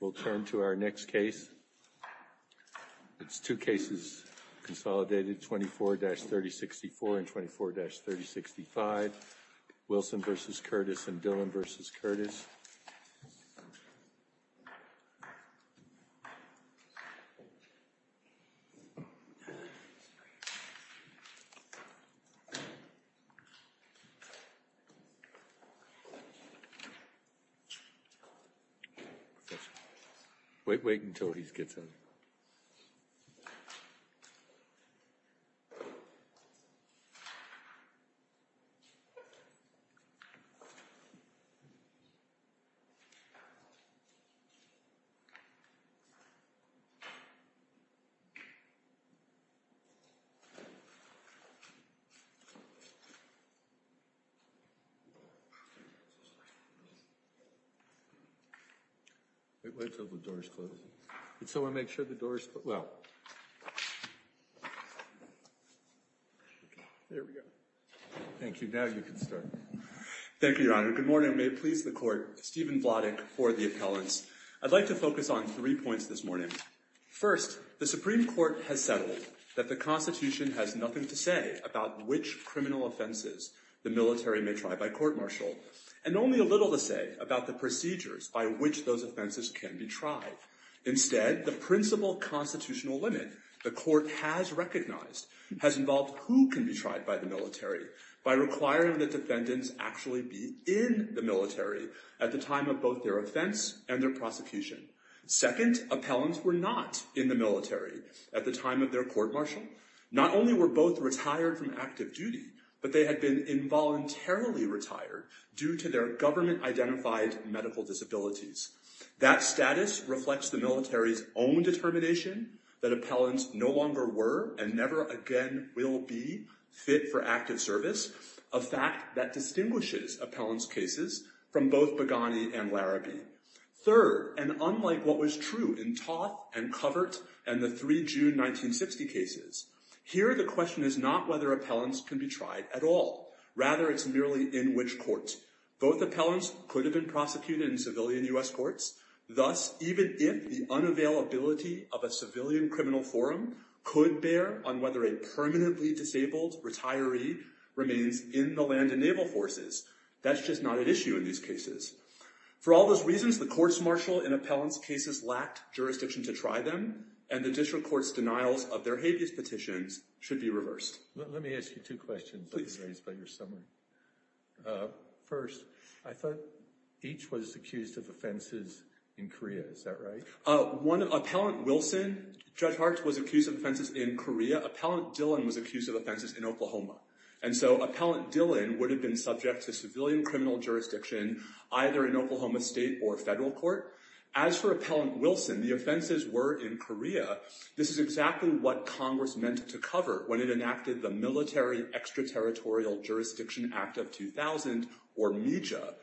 We'll turn to our next case. It's two cases consolidated 24-3064 and 24-3065. Wilson v. Curtis and Dillon v. Curtis. Wait, wait until he gets in. Wait, wait until the door is closed. So I make sure the door is closed. Well. There we go. Thank you. Now you can start. Thank you, Your Honor. Good morning. May it please the court, Stephen Vladek for the appellants. I'd like to focus on three points this morning. First, the Supreme Court has settled that the Constitution has nothing to say about which criminal offenses the military may try by court-martial. And only a little to say about the procedures by which those offenses can be tried. Instead, the principal constitutional limit the court has recognized has involved who can be tried by the military by requiring the defendants actually be in the military at the time of both their offense and their prosecution. Second, appellants were not in the military at the time of their court-martial. Not only were both retired from active duty, but they had been involuntarily retired due to their government-identified medical disabilities. That status reflects the military's own determination that appellants no longer were and never again will be fit for active service. A fact that distinguishes appellants' cases from both Beghani and Larabee. Third, and unlike what was true in Toth and Covert and the three June 1960 cases, here the question is not whether appellants can be tried at all. Rather, it's merely in which court. Both appellants could have been prosecuted in civilian U.S. courts. Thus, even if the unavailability of a civilian criminal forum could bear on whether a permanently disabled retiree remains in the land and naval forces, that's just not at issue in these cases. For all those reasons, the court-martial in appellants' cases lacked jurisdiction to try them, and the district court's denials of their habeas petitions should be reversed. Let me ask you two questions that were raised by your summary. First, I thought each was accused of offenses in Korea, is that right? One, Appellant Wilson, Judge Hart, was accused of offenses in Korea. Appellant Dillon was accused of offenses in Oklahoma. And so, Appellant Dillon would have been subject to civilian criminal jurisdiction. Either in Oklahoma state or federal court. As for Appellant Wilson, the offenses were in Korea. This is exactly what Congress meant to cover when it enacted the Military Extraterritorial Jurisdiction Act of 2000, or MEJA.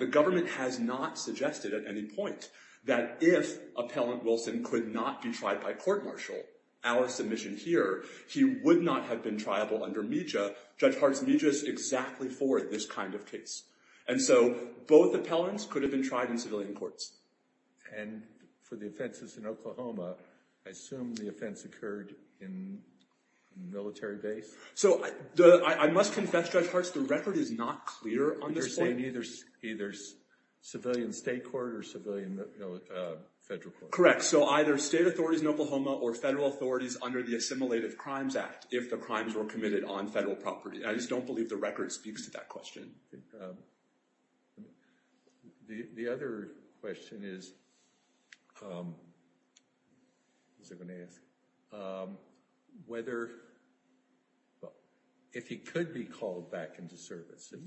The government has not suggested at any point that if Appellant Wilson could not be tried by court-martial, our submission here, he would not have been triable under MEJA. Judge Hart's MEJA is exactly for this kind of case. And so, both appellants could have been tried in civilian courts. And for the offenses in Oklahoma, I assume the offense occurred in military base? So, I must confess, Judge Hart, the record is not clear on this point. You're saying either civilian state court or civilian federal court. Correct. So, either state authorities in Oklahoma or federal authorities under the Assimilative Crimes Act, if the crimes were committed on federal property. I just don't believe the record speaks to that question. The other question is, if he could be called back into service, if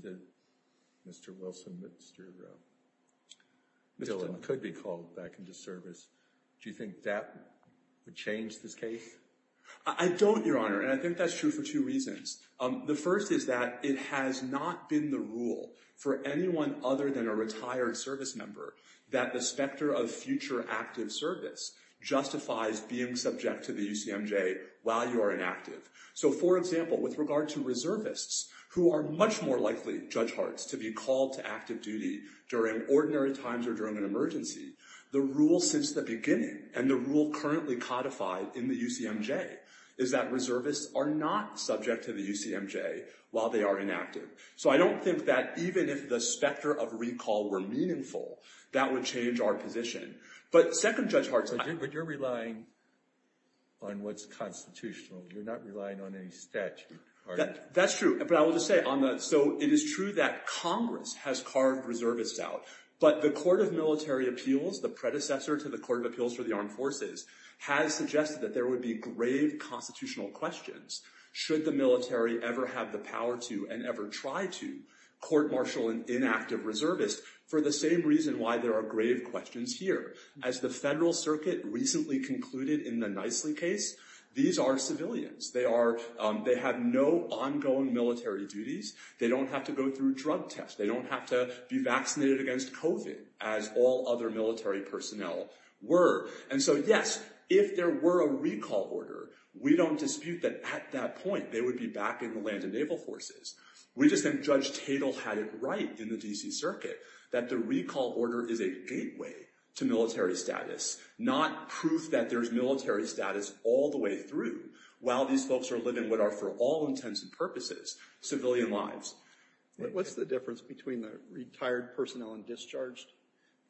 Mr. Wilson could be called back into service, do you think that would change this case? I don't, Your Honor. And I think that's true for two reasons. The first is that it has not been the rule for anyone other than a retired service member that the specter of future active service justifies being subject to the UCMJ while you are inactive. So, for example, with regard to reservists, who are much more likely, Judge Hart, to be called to active duty during ordinary times or during an emergency, the rule since the beginning and the rule currently codified in the UCMJ is that reservists are not subject to the UCMJ while they are inactive. So, I don't think that even if the specter of recall were meaningful, that would change our position. But, second, Judge Hart, But you're relying on what's constitutional. You're not relying on any statute. That's true. But I will just say, so it is true that Congress has carved reservists out. But the Court of Military Appeals, the predecessor to the Court of Appeals for the Armed Forces, has suggested that there would be grave constitutional questions. Should the military ever have the power to and ever try to court-martial an inactive reservist for the same reason why there are grave questions here. As the Federal Circuit recently concluded in the Nicely case, these are civilians. They have no ongoing military duties. They don't have to go through drug tests. They don't have to be vaccinated against COVID as all other military personnel were. And so, yes, if there were a recall order, we don't dispute that at that point they would be back in the land and naval forces. We just think Judge Tatel had it right in the DC Circuit that the recall order is a gateway to military status, not proof that there's military status all the way through while these folks are living what are for all intents and purposes, civilian lives. What's the difference between the retired personnel and discharged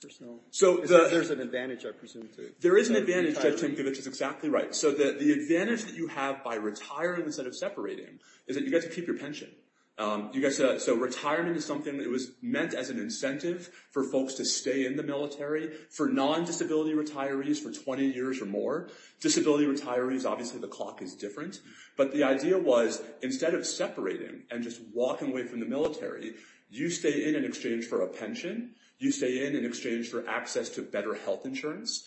personnel? So there's an advantage, I presume. There is an advantage. Judge Tinkovich is exactly right. So the advantage that you have by retiring instead of separating is that you get to keep your pension. So retirement is something that was meant as an incentive for folks to stay in the military, for non-disability retirees for 20 years or more. Disability retirees, obviously the clock is different. But the idea was instead of separating and just walking away from the military, you stay in in exchange for a pension. You stay in in exchange for access to better health insurance.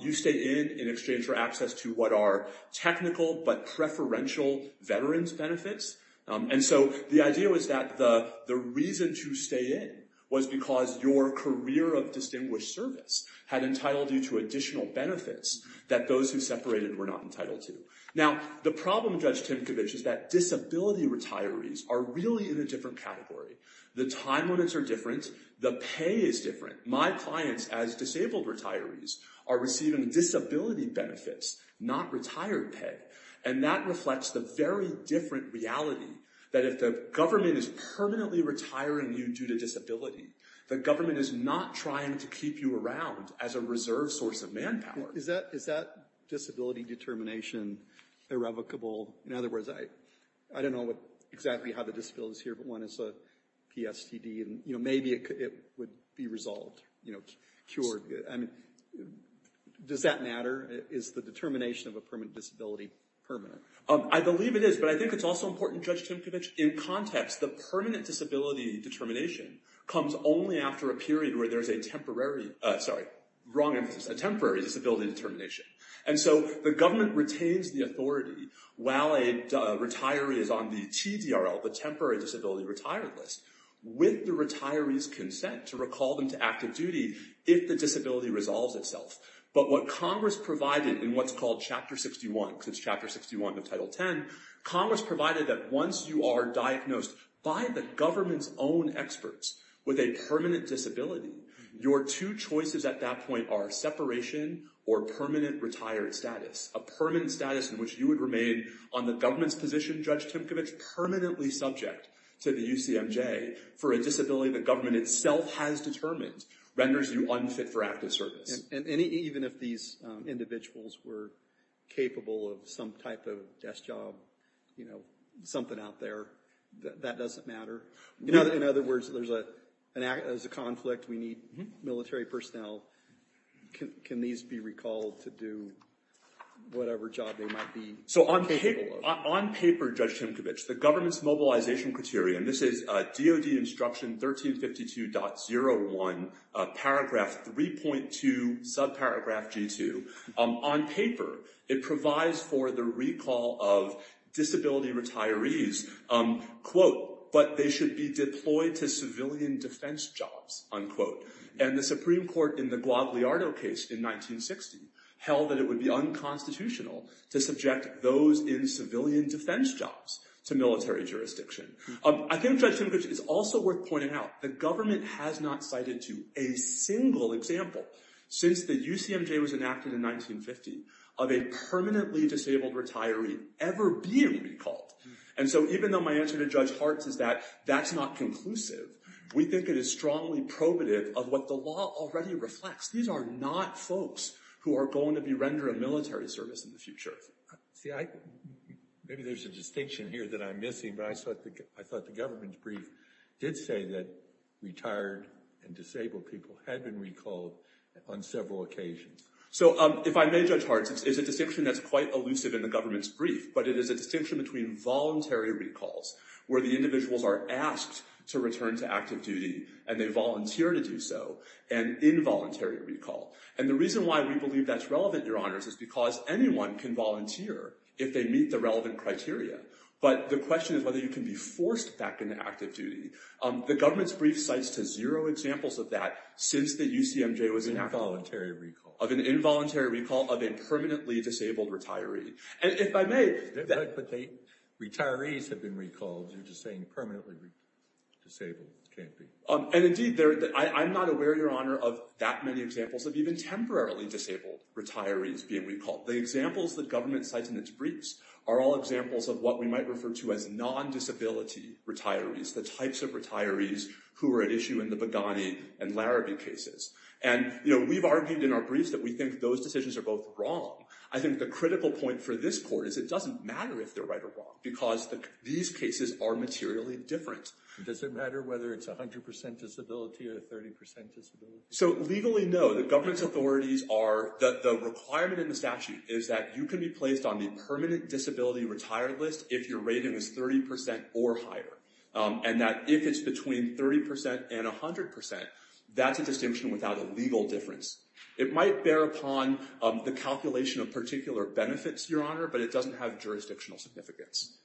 You stay in in exchange for access to what are technical but preferential veterans benefits. And so the idea was that the reason to stay in was because your career of distinguished service had entitled you to additional benefits that those who separated were not entitled to. Now the problem, Judge Tinkovich, is that disability retirees are really in a different category. The time limits are different. The pay is different. My clients as disabled retirees are receiving disability benefits, not retired pay. And that reflects the very different reality that if the government is permanently retiring you due to disability, the government is not trying to keep you around as a reserve source of manpower. Is that disability determination irrevocable? In other words, I don't know exactly how the disability is here, but one is a PSTD and maybe it would be resolved, cured. I mean, does that matter? Is the determination of a permanent disability permanent? I believe it is. But I think it's also important, Judge Tinkovich, in context, the permanent disability determination comes only after a period where there's a temporary, sorry, wrong emphasis, a temporary disability determination. And so the government retains the authority while a retiree is on the TDRL, the temporary disability retired list, with the retiree's consent to recall them to active duty if the disability resolves itself. But what Congress provided in what's called Chapter 61, since Chapter 61 of Title 10, Congress provided that once you are diagnosed by the government's own experts with a permanent disability, your two choices at that point are separation or permanent retired status. A permanent status in which you would remain on the government's position, Judge Tinkovich, permanently subject to the UCMJ for a disability the government itself has determined renders you unfit for active service. And even if these individuals were capable of some type of desk job, you know, something out there, that doesn't matter? In other words, there's a conflict, we need military personnel, can these be recalled to do whatever job they might be capable of? So on paper, Judge Tinkovich, the government's mobilization criteria, and this is DOD Instruction 1352.01, paragraph 3.2, subparagraph G2. On paper, it provides for the recall of disability retirees, quote, but they should be deployed to civilian defense jobs, unquote. And the Supreme Court in the Guadalajara case in 1960 held that it would be unconstitutional to subject those in civilian defense jobs to military jurisdiction. I think Judge Tinkovich, it's also worth pointing out, the government has not cited to a single example since the UCMJ was enacted in 1950 of a permanently disabled retiree ever being recalled. And so even though my answer to Judge Hartz is that that's not conclusive, we think it is strongly probative of what the law already reflects. These are not folks who are going to be rendering military service in the future. See, maybe there's a distinction here that I'm missing, but I thought the government's brief did say that retired and disabled people had been recalled on several occasions. So if I may, Judge Hartz, it's a distinction that's quite elusive in the government's brief, but it is a distinction between voluntary recalls, where the individuals are asked to return to active duty and they volunteer to do so, and involuntary recall. And the reason why we believe that's relevant, Your Honors, is because anyone can volunteer if they meet the relevant criteria. But the question is whether you can be forced back into active duty. The government's brief cites to zero examples of that since the UCMJ was enacted. Of an involuntary recall. Of an involuntary recall of a permanently disabled retiree. And if I may... But retirees have been recalled. You're just saying permanently disabled can't be. And indeed, I'm not aware, Your Honor, of that many examples of even temporarily disabled retirees being recalled. The examples the government cites in its briefs are all examples of what we might refer to as non-disability retirees. The types of retirees who are at issue in the Beghani and Larrabee cases. And, you know, we've argued in our briefs that we think those decisions are both wrong. I think the critical point for this court is it doesn't matter if they're right or wrong, because these cases are materially different. Does it matter whether it's 100% disability or 30% disability? So, legally, no. The government's authorities are... The requirement in the statute is that you can be placed on the permanent disability retire list if your rating is 30% or higher. And that if it's between 30% and 100%, that's a distinction without a legal difference. It might bear upon the calculation of particular benefits, Your Honor, but it doesn't have jurisdictional significance.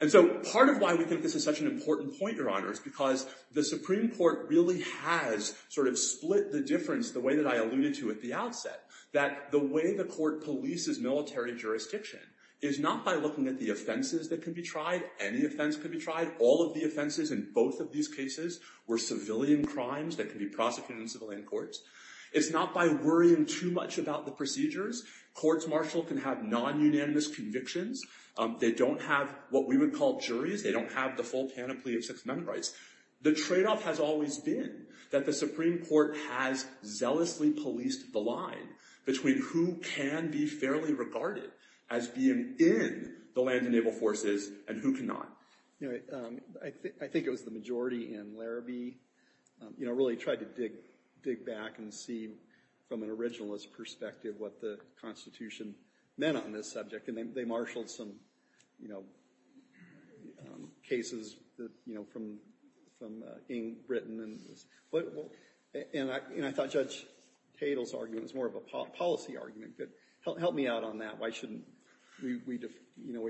And so, part of why we think this is such an important point, Your Honor, is because the Supreme Court really has sort of split the difference the way that I alluded to at the outset. That the way the court polices military jurisdiction is not by looking at the offenses that can be tried. Any offense can be tried. All of the offenses in both of these cases were civilian crimes that can be prosecuted in civilian courts. It's not by worrying too much about the procedures. Courts, Marshall, can have non-unanimous convictions. They don't have what we would call juries. They don't have the full canopy of Sixth Amendment rights. The trade-off has always been that the Supreme Court has zealously policed the line between who can be fairly regarded as being in the land and naval forces and who cannot. I think it was the majority in Larrabee. You know, really tried to dig back and see from an originalist perspective what the Constitution meant on this subject. And they marshaled some, you know, cases, you know, from Britain. And I thought Judge Tatel's argument was more of a policy argument. Help me out on that. Why shouldn't we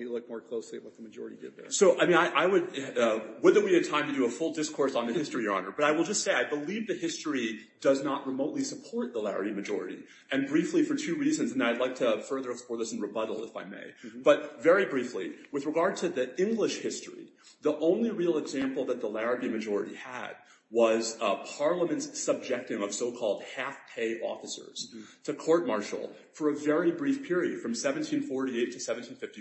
look more closely at what the majority did there? Whether we had time to do a full discourse on the history, Your Honor, but I will just say I believe the history does not remotely support the Larrabee majority. And briefly for two reasons, and I'd like to further explore this in rebuttal if I may. But very briefly, with regard to the English history, the only real example that the Larrabee majority had was Parliament's subjecting of so-called half-pay officers to court-martial for a very brief period from 1748 to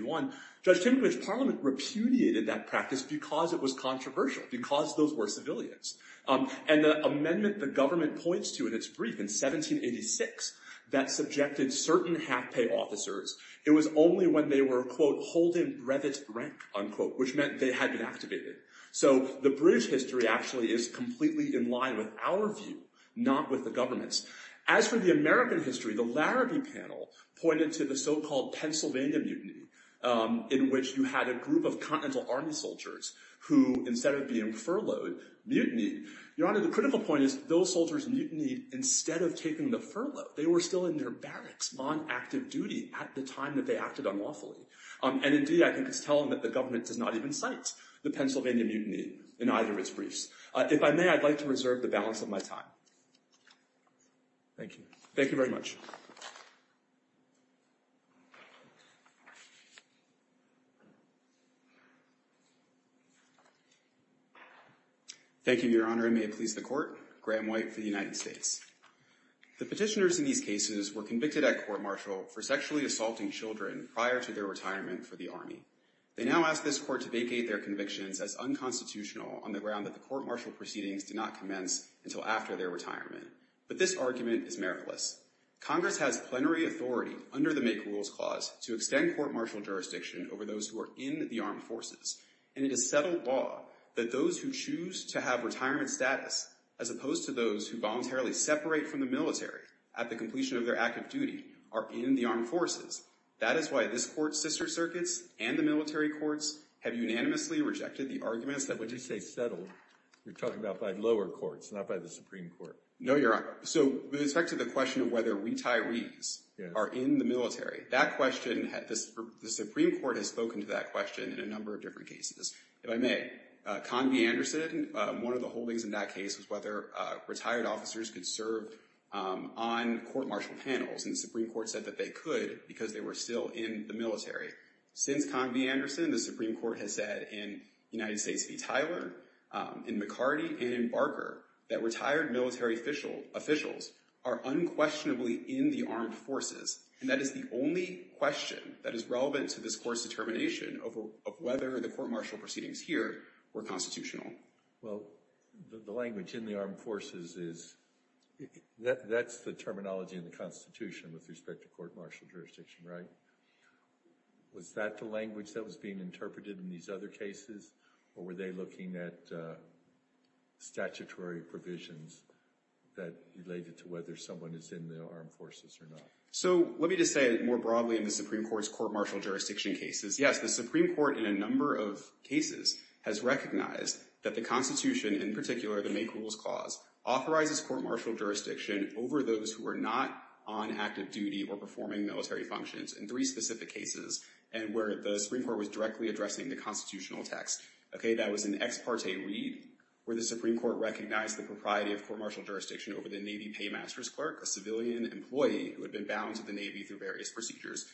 1751. Judge Timothy's Parliament repudiated that practice because it was controversial, because those were civilians. And the amendment the government points to in its brief in 1786 that subjected certain half-pay officers, it was only when they were, quote, holding brevet rank, unquote, which meant they had been activated. So the British history actually is completely in line with our view, not with the government's. As for the American history, the Larrabee panel pointed to the so-called Pennsylvania mutiny. In which you had a group of Continental Army soldiers who, instead of being furloughed, mutinied. Your Honor, the critical point is those soldiers mutinied instead of taking the furlough. They were still in their barracks on active duty at the time that they acted unlawfully. And indeed, I think it's telling that the government does not even cite the Pennsylvania mutiny in either of its briefs. If I may, I'd like to reserve the balance of my time. Thank you. Thank you very much. Thank you, Your Honor, and may it please the Court. Graham White for the United States. The petitioners in these cases were convicted at court-martial for sexually assaulting children prior to their retirement for the Army. They now ask this Court to vacate their convictions as unconstitutional on the ground that the court-martial proceedings did not commence until after their retirement. But this argument is meritless. Congress has plenary authority under the Make Rules Clause to extend court-martial proceedings until after their retirement. And it is settled law that those who choose to have retirement status, as opposed to those who voluntarily separate from the military at the completion of their active duty, are in the armed forces. That is why this Court's sister circuits and the military courts have unanimously rejected the arguments that— When you say settled, you're talking about by lower courts, not by the Supreme Court. No, Your Honor. So with respect to the question of whether retirees are in the military, that question—the Supreme Court has spoken to that question in a number of different cases. If I may, Convey-Anderson, one of the holdings in that case was whether retired officers could serve on court-martial panels. And the Supreme Court said that they could because they were still in the military. Since Convey-Anderson, the Supreme Court has said in United States v. Tyler, in McCarty, and in Barker, that retired military officials are unquestionably in the armed forces. And that is the only question that is relevant to this Court's determination of whether the court-martial proceedings here were constitutional. Well, the language in the armed forces is—that's the terminology in the Constitution with respect to court-martial jurisdiction, right? Was that the language that was being interpreted in these other cases, or were they looking at statutory provisions that related to whether someone is in the armed forces or not? So, let me just say it more broadly in the Supreme Court's court-martial jurisdiction cases. Yes, the Supreme Court in a number of cases has recognized that the Constitution, in particular the Make Rules Clause, authorizes court-martial jurisdiction over those who are not on active duty or performing military functions. In three specific cases, and where the Supreme Court was directly addressing the constitutional text. Okay, that was in Ex Parte Read, where the Supreme Court recognized the propriety of court-martial jurisdiction over the Navy paymaster's clerk, a civilian employee who had been bound to the Navy through various procedures.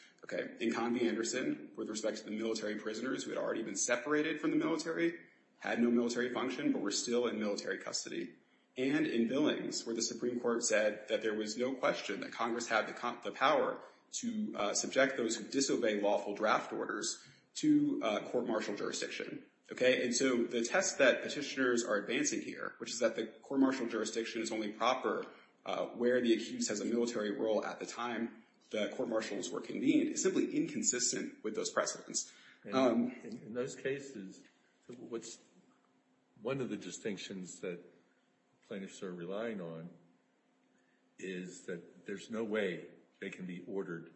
In Convey-Anderson, with respect to the military prisoners who had already been separated from the military, had no military function, but were still in military custody. And in Billings, where the Supreme Court said that there was no question that Congress had the power to subject those who disobey lawful draft orders to court-martial jurisdiction. Okay, and so the test that petitioners are advancing here, which is that the court-martial jurisdiction is only proper where the accused has a military role at the time the court-martials were convened, is simply inconsistent with those precedents. And in those cases, what's one of the distinctions that plaintiffs are relying on is that there's no way they can be ordered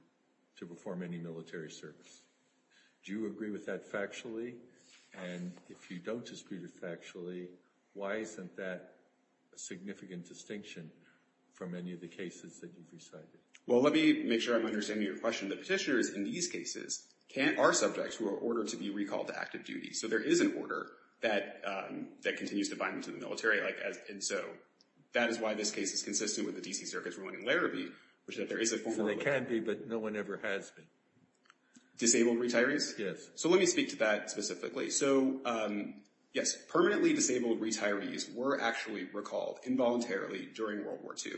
to perform any military service. Do you agree with that factually? And if you don't dispute it factually, why isn't that a significant distinction from any of the cases that you've recited? Well, let me make sure I'm understanding your question. The petitioners in these cases are subjects who are ordered to be recalled to active duty. So there is an order that continues to bind them to the military. And so that is why this case is consistent with the D.C. Circuit's ruling in Larrabee, which is that there is a form of— So they can be, but no one ever has been. Disabled retirees? Yes. So let me speak to that specifically. So, yes, permanently disabled retirees were actually recalled involuntarily during World War II.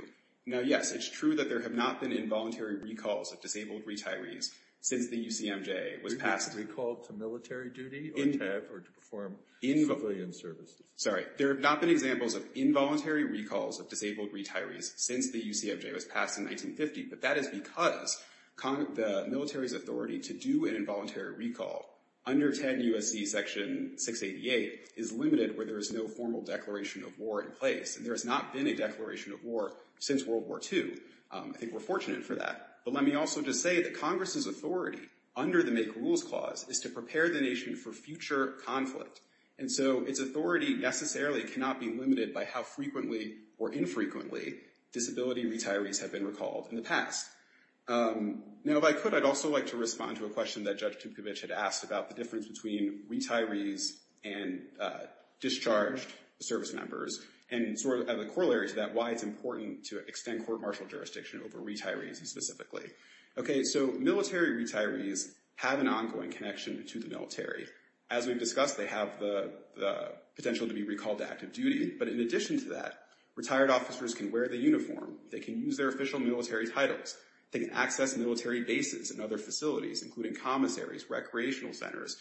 Now, yes, it's true that there have not been involuntary recalls of disabled retirees since the UCMJ was passed— Recalled to military duty or to perform civilian services. Sorry. There have not been examples of involuntary recalls of disabled retirees since the UCMJ was passed in 1950. But that is because the military's authority to do an involuntary recall under 10 U.S.C. Section 688 is limited where there is no formal declaration of war in place. And there has not been a declaration of war since World War II. I think we're fortunate for that. But let me also just say that Congress's authority under the Make Rules Clause is to prepare the nation for future conflict. And so its authority necessarily cannot be limited by how frequently or infrequently disability retirees have been recalled. In the past. Now, if I could, I'd also like to respond to a question that Judge Tukovich had asked about the difference between retirees and discharged servicemembers. And sort of the corollary to that, why it's important to extend court martial jurisdiction over retirees specifically. Okay, so military retirees have an ongoing connection to the military. As we've discussed, they have the potential to be recalled to active duty. But in addition to that, retired officers can wear the uniform. They can use their official military titles. They can access military bases and other facilities, including commissaries, recreational centers,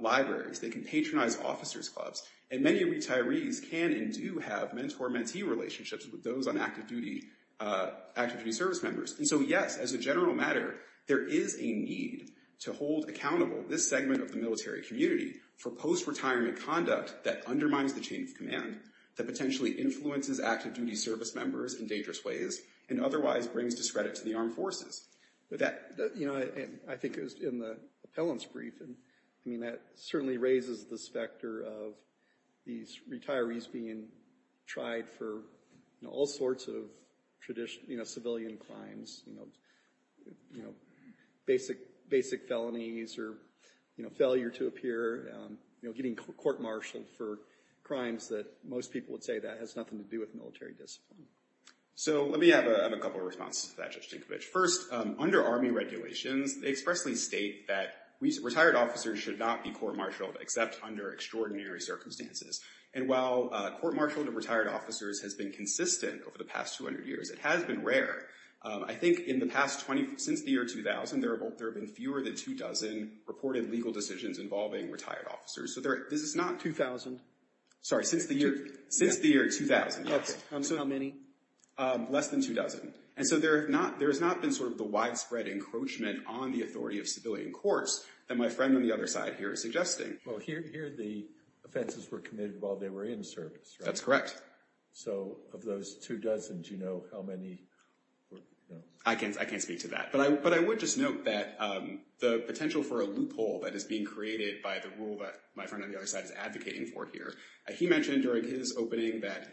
libraries. They can patronize officers' clubs. And many retirees can and do have mentor-mentee relationships with those on active duty service members. And so, yes, as a general matter, there is a need to hold accountable this segment of the military community for post-retirement conduct that undermines the chain of command, that potentially influences active duty service members in dangerous ways, and otherwise brings discredit to the armed forces. You know, I think it was in the appellant's brief. I mean, that certainly raises this factor of these retirees being tried for all sorts of tradition, you know, civilian crimes. You know, basic felonies or, you know, failure to appear. You know, getting court-martialed for crimes that most people would say that has nothing to do with military discipline. So let me have a couple of responses to that, Judge Tinkovich. First, under Army regulations, they expressly state that retired officers should not be court-martialed except under extraordinary circumstances. And while court-martialed retired officers has been consistent over the past 200 years, it has been rare. I think in the past 20—since the year 2000, there have been fewer than two dozen reported legal decisions involving retired officers. So there—this is not— Two thousand? Sorry, since the year—since the year 2000, yes. Okay. How many? Less than two dozen. And so there have not—there has not been sort of the widespread encroachment on the authority of civilian courts that my friend on the other side here is suggesting. Well, here the offenses were committed while they were in service, right? That's correct. So of those two dozen, do you know how many were— I can't speak to that. But I would just note that the potential for a loophole that is being created by the rule that my friend on the other side is advocating for here, he mentioned during his opening that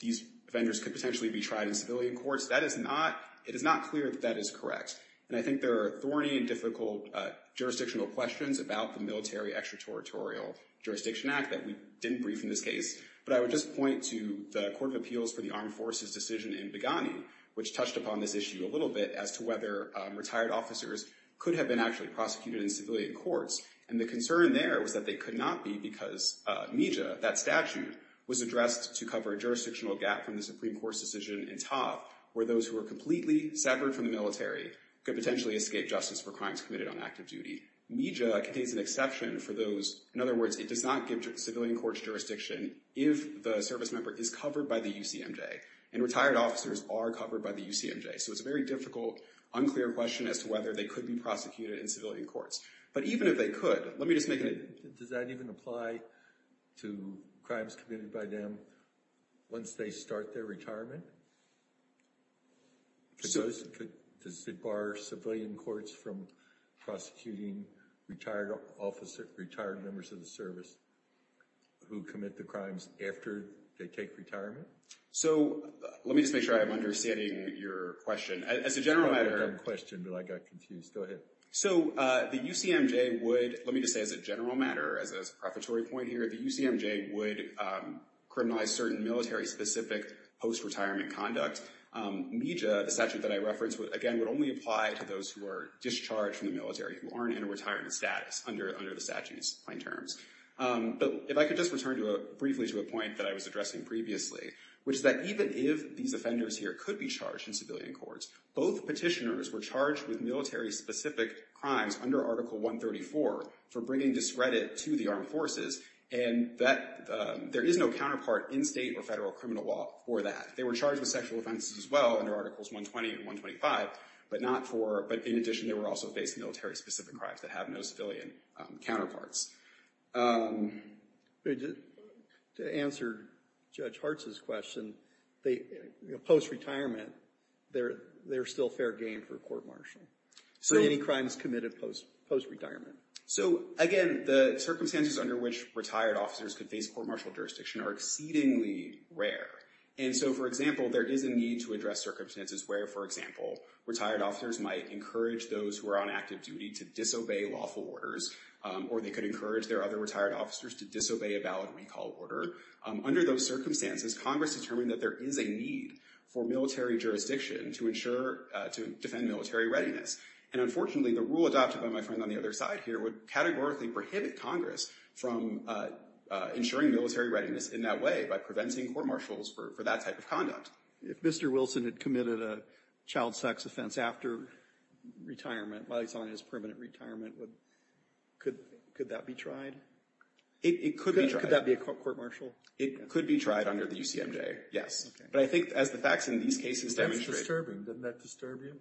these offenders could potentially be tried in civilian courts. That is not—it is not clear that that is correct. And I think there are thorny and difficult jurisdictional questions about the Military Extraterritorial Jurisdiction Act that we didn't brief in this case. But I would just point to the Court of Appeals for the Armed Forces decision in Beghani, which touched upon this issue a little bit as to whether retired officers could have been actually prosecuted in civilian courts. And the concern there was that they could not be because MIJA, that statute, was addressed to cover a jurisdictional gap from the Supreme Court's decision in Tov, where those who are completely separate from the military could potentially escape justice for crimes committed on active duty. MIJA contains an exception for those. In other words, it does not give civilian courts jurisdiction if the service member is covered by the UCMJ. And retired officers are covered by the UCMJ. So it's a very difficult, unclear question as to whether they could be prosecuted in civilian courts. But even if they could, let me just make an— Does that even apply to crimes committed by them once they start their retirement? Does it bar civilian courts from prosecuting retired members of the service who commit the crimes after they take retirement? So, let me just make sure I'm understanding your question. As a general matter— It's probably a dumb question, but I got confused. Go ahead. So, the UCMJ would—let me just say as a general matter, as a preparatory point here— The UCMJ would criminalize certain military-specific post-retirement conduct. MIJA, the statute that I referenced, again, would only apply to those who are discharged from the military, who aren't in a retirement status under the statute's plain terms. But if I could just return briefly to a point that I was addressing previously, which is that even if these offenders here could be charged in civilian courts, both petitioners were charged with military-specific crimes under Article 134 for bringing discredit to the Armed Forces and there is no counterpart in state or federal criminal law for that. They were charged with sexual offenses as well under Articles 120 and 125, but in addition, they were also facing military-specific crimes that have no civilian counterparts. To answer Judge Hartz's question, post-retirement, there's still fair game for a court-martial. So, any crimes committed post-retirement. So, again, the circumstances under which retired officers could face court-martial jurisdiction are exceedingly rare. And so, for example, there is a need to address circumstances where, for example, retired officers might encourage those who are on active duty to disobey lawful orders or they could encourage their other retired officers to disobey a valid recall order. Under those circumstances, Congress determined that there is a need for military jurisdiction to ensure—to defend military readiness. And unfortunately, the rule adopted by my friend on the other side here would categorically prohibit Congress from ensuring military readiness in that way by preventing court-martials for that type of conduct. If Mr. Wilson had committed a child sex offense after retirement, while he's on his permanent retirement, could that be tried? It could be tried. Could that be a court-martial? It could be tried under the UCMJ, yes. But I think as the facts in these cases demonstrate— That's disturbing. Doesn't that disturb you?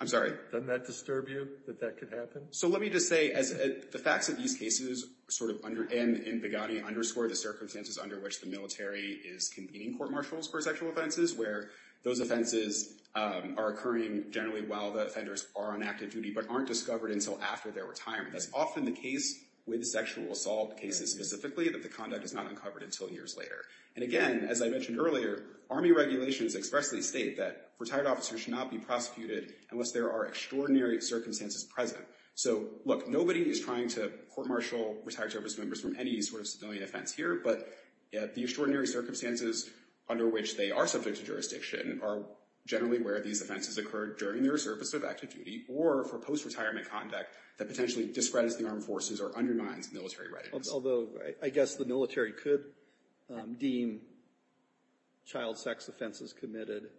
I'm sorry? Doesn't that disturb you, that that could happen? So let me just say, as the facts of these cases sort of—and Begani underscored the circumstances under which the military is convening court-martials for sexual offenses, where those offenses are occurring generally while the offenders are on active duty but aren't discovered until after their retirement. That's often the case with sexual assault cases specifically, that the conduct is not uncovered until years later. And again, as I mentioned earlier, Army regulations expressly state that retired officers should not be prosecuted unless there are extraordinary circumstances present. So look, nobody is trying to court-martial retired service members from any sort of civilian offense here, but the extraordinary circumstances under which they are subject to jurisdiction are generally where these offenses occur during their service of active duty or for post-retirement conduct that potentially discredits the Armed Forces or undermines military readiness. Although I guess the military could deem child sex offenses committed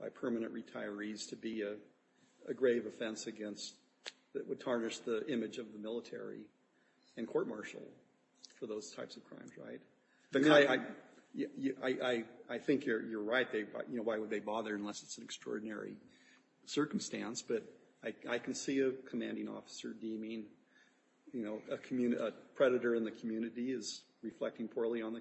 by permanent retirees to be a grave offense against—that would tarnish the image of the military and court-martial for those types of crimes, right? I mean, I think you're right. You know, why would they bother unless it's an extraordinary circumstance? But I can see a commanding officer deeming, you know, a predator in the community is reflecting poorly on the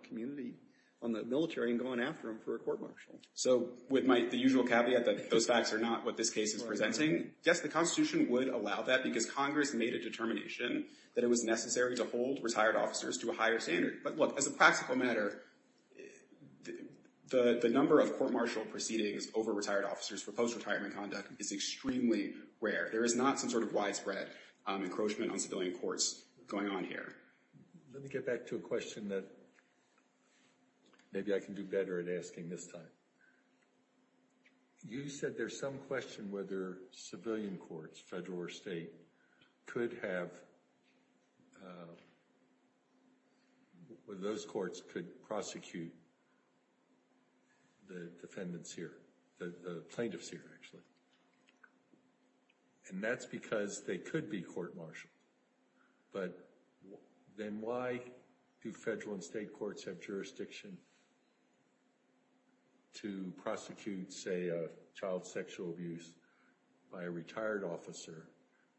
military and going after them for a court-martial. So with the usual caveat that those facts are not what this case is presenting, yes, the Constitution would allow that because Congress made a determination that it was necessary to hold retired officers to a higher standard. But look, as a practical matter, the number of court-martial proceedings over retired officers for post-retirement conduct is extremely rare. There is not some sort of widespread encroachment on civilian courts going on here. Let me get back to a question that maybe I can do better at asking this time. You said there's some question whether civilian courts, federal or state, could have—whether those courts could prosecute the defendants here—the plaintiffs here, actually. And that's because they could be court-martialed. But then why do federal and state courts have jurisdiction to prosecute, say, child sexual abuse by a retired officer,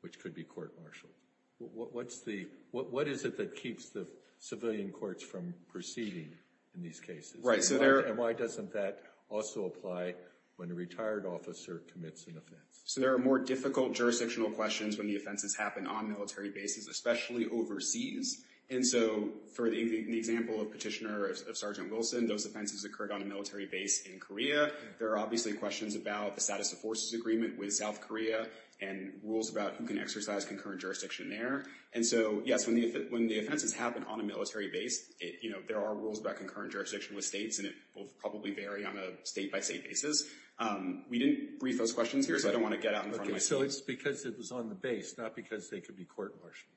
which could be court-martialed? What is it that keeps the civilian courts from proceeding in these cases? And why doesn't that also apply when a retired officer commits an offense? So there are more difficult jurisdictional questions when the offenses happen on military bases, especially overseas. And so, for the example of Petitioner of Sergeant Wilson, those offenses occurred on a military base in Korea. There are obviously questions about the status of forces agreement with South Korea and rules about who can exercise concurrent jurisdiction there. And so, yes, when the offenses happen on a military base, there are rules about concurrent jurisdiction with states, and it will probably vary on a state-by-state basis. We didn't brief those questions here, so I don't want to get out in front of my students. Okay, so it's because it was on the base, not because they could be court-martialed.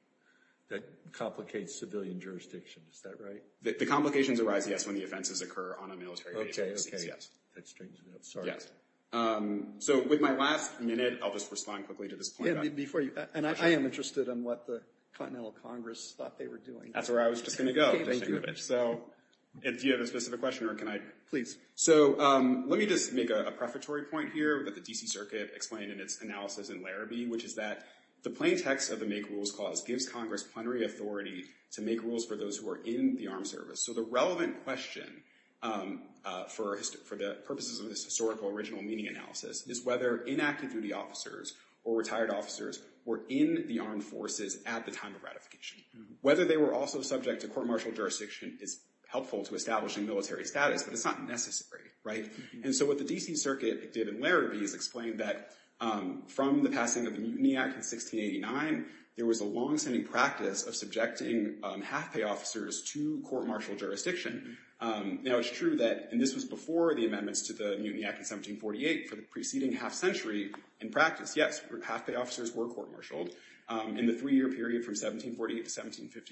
That complicates civilian jurisdiction. Is that right? The complications arise, yes, when the offenses occur on a military base. Okay, okay. That's strange enough. Sorry. Yes. So, with my last minute, I'll just respond quickly to this point. Yeah, before you—and I am interested in what the Continental Congress thought they were doing. That's where I was just going to go. Okay, thank you. So, if you have a specific question, or can I— Please. So, let me just make a prefatory point here that the D.C. Circuit explained in its analysis in Larrabee, which is that the plain text of the Make Rules Clause gives Congress plenary authority to make rules for those who are in the armed service. So, the relevant question for the purposes of this historical original meaning analysis is whether inactive duty officers or retired officers were in the armed forces at the time of ratification. Whether they were also subject to court-martial jurisdiction is helpful to establishing military status, but it's not necessary, right? And so, what the D.C. Circuit did in Larrabee is explain that from the passing of the Mutiny Act in 1689, there was a long-standing practice of subjecting half-pay officers to court-martial jurisdiction. Now, it's true that—and this was before the amendments to the Mutiny Act in 1748, for the preceding half-century in practice, yes, half-pay officers were court-martialed. In the three-year period from 1748 to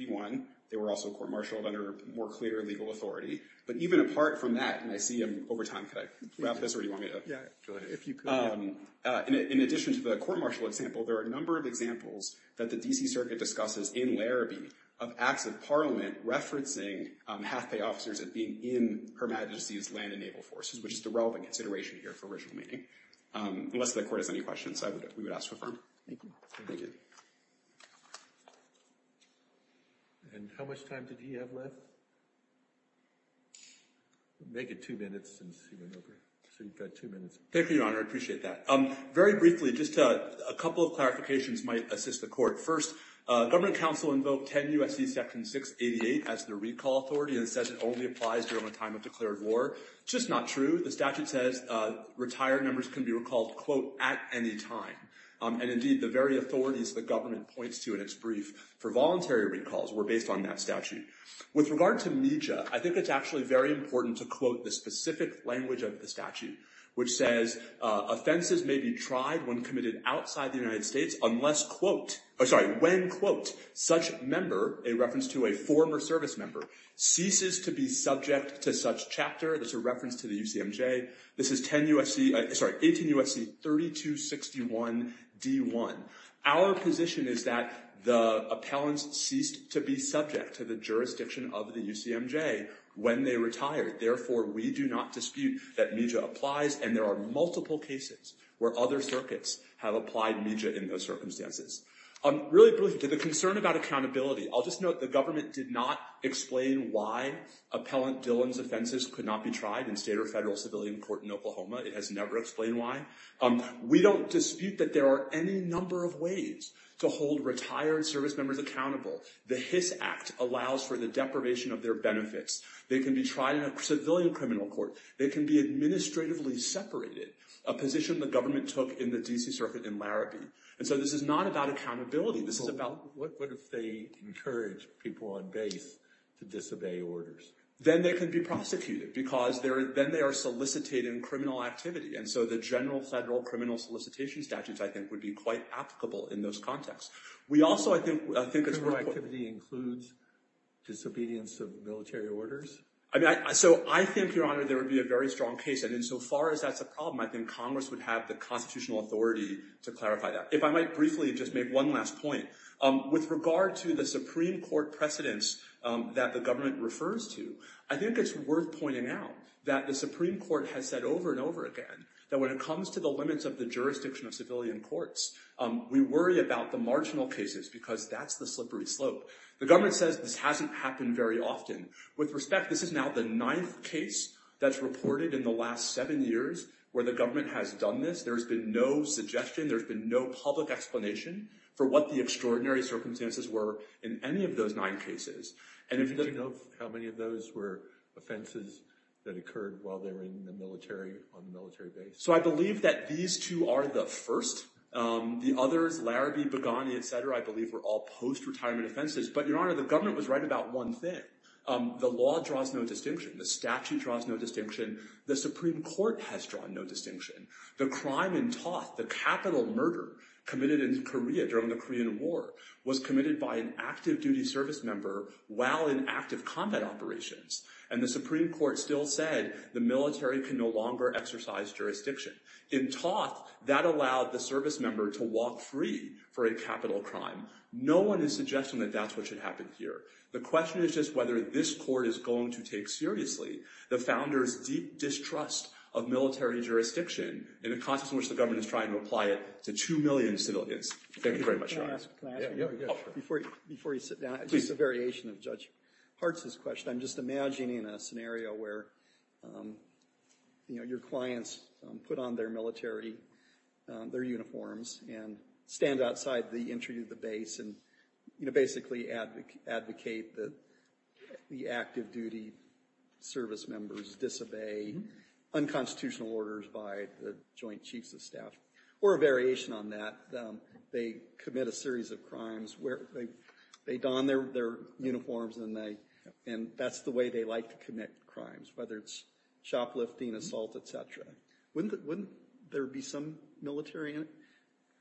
1751, they were also court-martialed under more clear legal authority. But even apart from that—and I see I'm over time, can I wrap this, or do you want me to— Yeah, go ahead, if you could. In addition to the court-martial example, there are a number of examples that the D.C. Circuit discusses in Larrabee of Acts of Parliament referencing half-pay officers as being in Her Majesty's land and naval forces, which is the relevant consideration here for original meaning. Unless the Court has any questions, I would—we would ask to affirm. Thank you. Thank you. And how much time did he have left? Make it two minutes since he went over, so you've got two minutes. Thank you, Your Honor, I appreciate that. Very briefly, just a couple of clarifications might assist the Court. First, government counsel invoked 10 U.S.C. Section 688 as the recall authority, and it says it only applies during the time of declared war. It's just not true. The statute says retired members can be recalled, quote, at any time. And indeed, the very authorities the government points to in its brief for voluntary recalls were based on that statute. With regard to MEJA, I think it's actually very important to quote the specific language of the statute, which says offenses may be tried when committed outside the United States unless, quote— oh, sorry, when, quote, such member—a reference to a former service member— ceases to be subject to such chapter. That's a reference to the UCMJ. This is 10 U.S.C.—sorry, 18 U.S.C. 3261 D.1. Our position is that the appellants ceased to be subject to the jurisdiction of the UCMJ when they retired. Therefore, we do not dispute that MEJA applies, and there are multiple cases where other circuits have applied MEJA in those circumstances. Really briefly, to the concern about accountability, I'll just note the government did not explain why Appellant Dillon's offenses could not be tried in state or federal civilian court in Oklahoma. It has never explained why. We don't dispute that there are any number of ways to hold retired service members accountable. The Hiss Act allows for the deprivation of their benefits. They can be tried in a civilian criminal court. They can be administratively separated, a position the government took in the D.C. Circuit in Larrabee. And so this is not about accountability. This is about— What if they encourage people on base to disobey orders? Then they can be prosecuted because then they are soliciting criminal activity. And so the general federal criminal solicitation statutes, I think, would be quite applicable in those contexts. We also, I think— Criminal activity includes disobedience of military orders? So I think, Your Honor, there would be a very strong case. And insofar as that's a problem, I think Congress would have the constitutional authority to clarify that. If I might briefly just make one last point. With regard to the Supreme Court precedents that the government refers to, I think it's worth pointing out that the Supreme Court has said over and over again that when it comes to the limits of the jurisdiction of civilian courts, we worry about the marginal cases because that's the slippery slope. The government says this hasn't happened very often. With respect, this is now the ninth case that's reported in the last seven years where the government has done this. There's been no suggestion, there's been no public explanation for what the extraordinary circumstances were in any of those nine cases. Do you know how many of those were offenses that occurred while they were in the military, on the military base? So I believe that these two are the first. The others, Larabee, Boghani, et cetera, I believe were all post-retirement offenses. But, Your Honor, the government was right about one thing. The law draws no distinction. The statute draws no distinction. The Supreme Court has drawn no distinction. The crime in Toth, the capital murder committed in Korea during the Korean War, was committed by an active duty service member while in active combat operations. And the Supreme Court still said the military can no longer exercise jurisdiction. In Toth, that allowed the service member to walk free for a capital crime. No one is suggesting that that's what should happen here. The question is just whether this court is going to take seriously the founders' deep distrust of military jurisdiction in a context in which the government is trying to apply it to two million civilians. Thank you very much, Your Honor. Can I ask you a question? Before you sit down, just a variation of Judge Hartz's question. I'm just imagining a scenario where, you know, your clients put on their military, their uniforms, and stand outside the entry of the base and, you know, basically advocate that the active duty service members disobey unconstitutional orders by the Joint Chiefs of Staff. Or a variation on that, they commit a series of crimes where they don their uniforms and that's the way they like to commit crimes, whether it's shoplifting, assault, etc. Wouldn't there be some military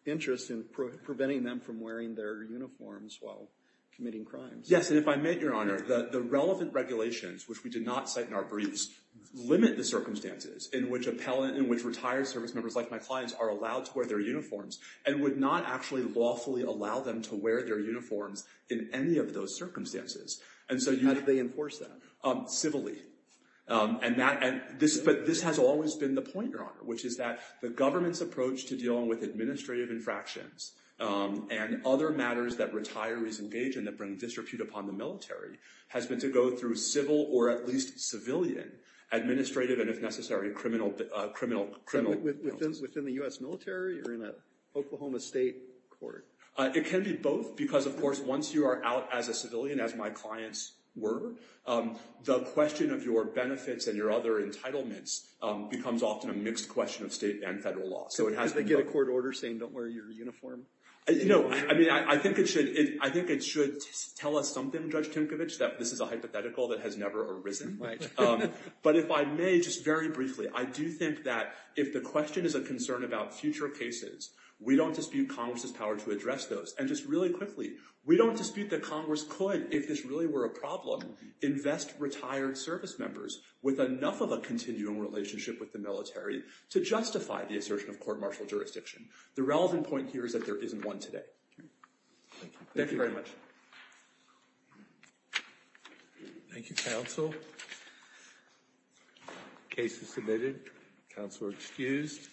interest in preventing them from wearing their uniforms while committing crimes? Yes, and if I may, Your Honor, the relevant regulations, which we did not cite in our briefs, limit the circumstances in which retired service members like my clients are allowed to wear their uniforms and would not actually lawfully allow them to wear their uniforms in any of those circumstances. How do they enforce that? But this has always been the point, Your Honor, which is that the government's approach to dealing with administrative infractions and other matters that retirees engage in that bring disrepute upon the military has been to go through civil or at least civilian administrative and, if necessary, criminal. Within the U.S. military or in an Oklahoma state court? It can be both because, of course, once you are out as a civilian, as my clients were, the question of your benefits and your other entitlements becomes often a mixed question of state and federal law. Do they get a court order saying don't wear your uniform? I think it should tell us something, Judge Tinkovich, that this is a hypothetical that has never arisen. But if I may, just very briefly, I do think that if the question is a concern about future cases, we don't dispute Congress's power to address those. And just really quickly, we don't dispute that Congress could, if this really were a problem, invest retired service members with enough of a continuing relationship with the military to justify the assertion of court martial jurisdiction. The relevant point here is that there isn't one today. Thank you very much. Thank you, counsel. Case is submitted. Counsel are excused.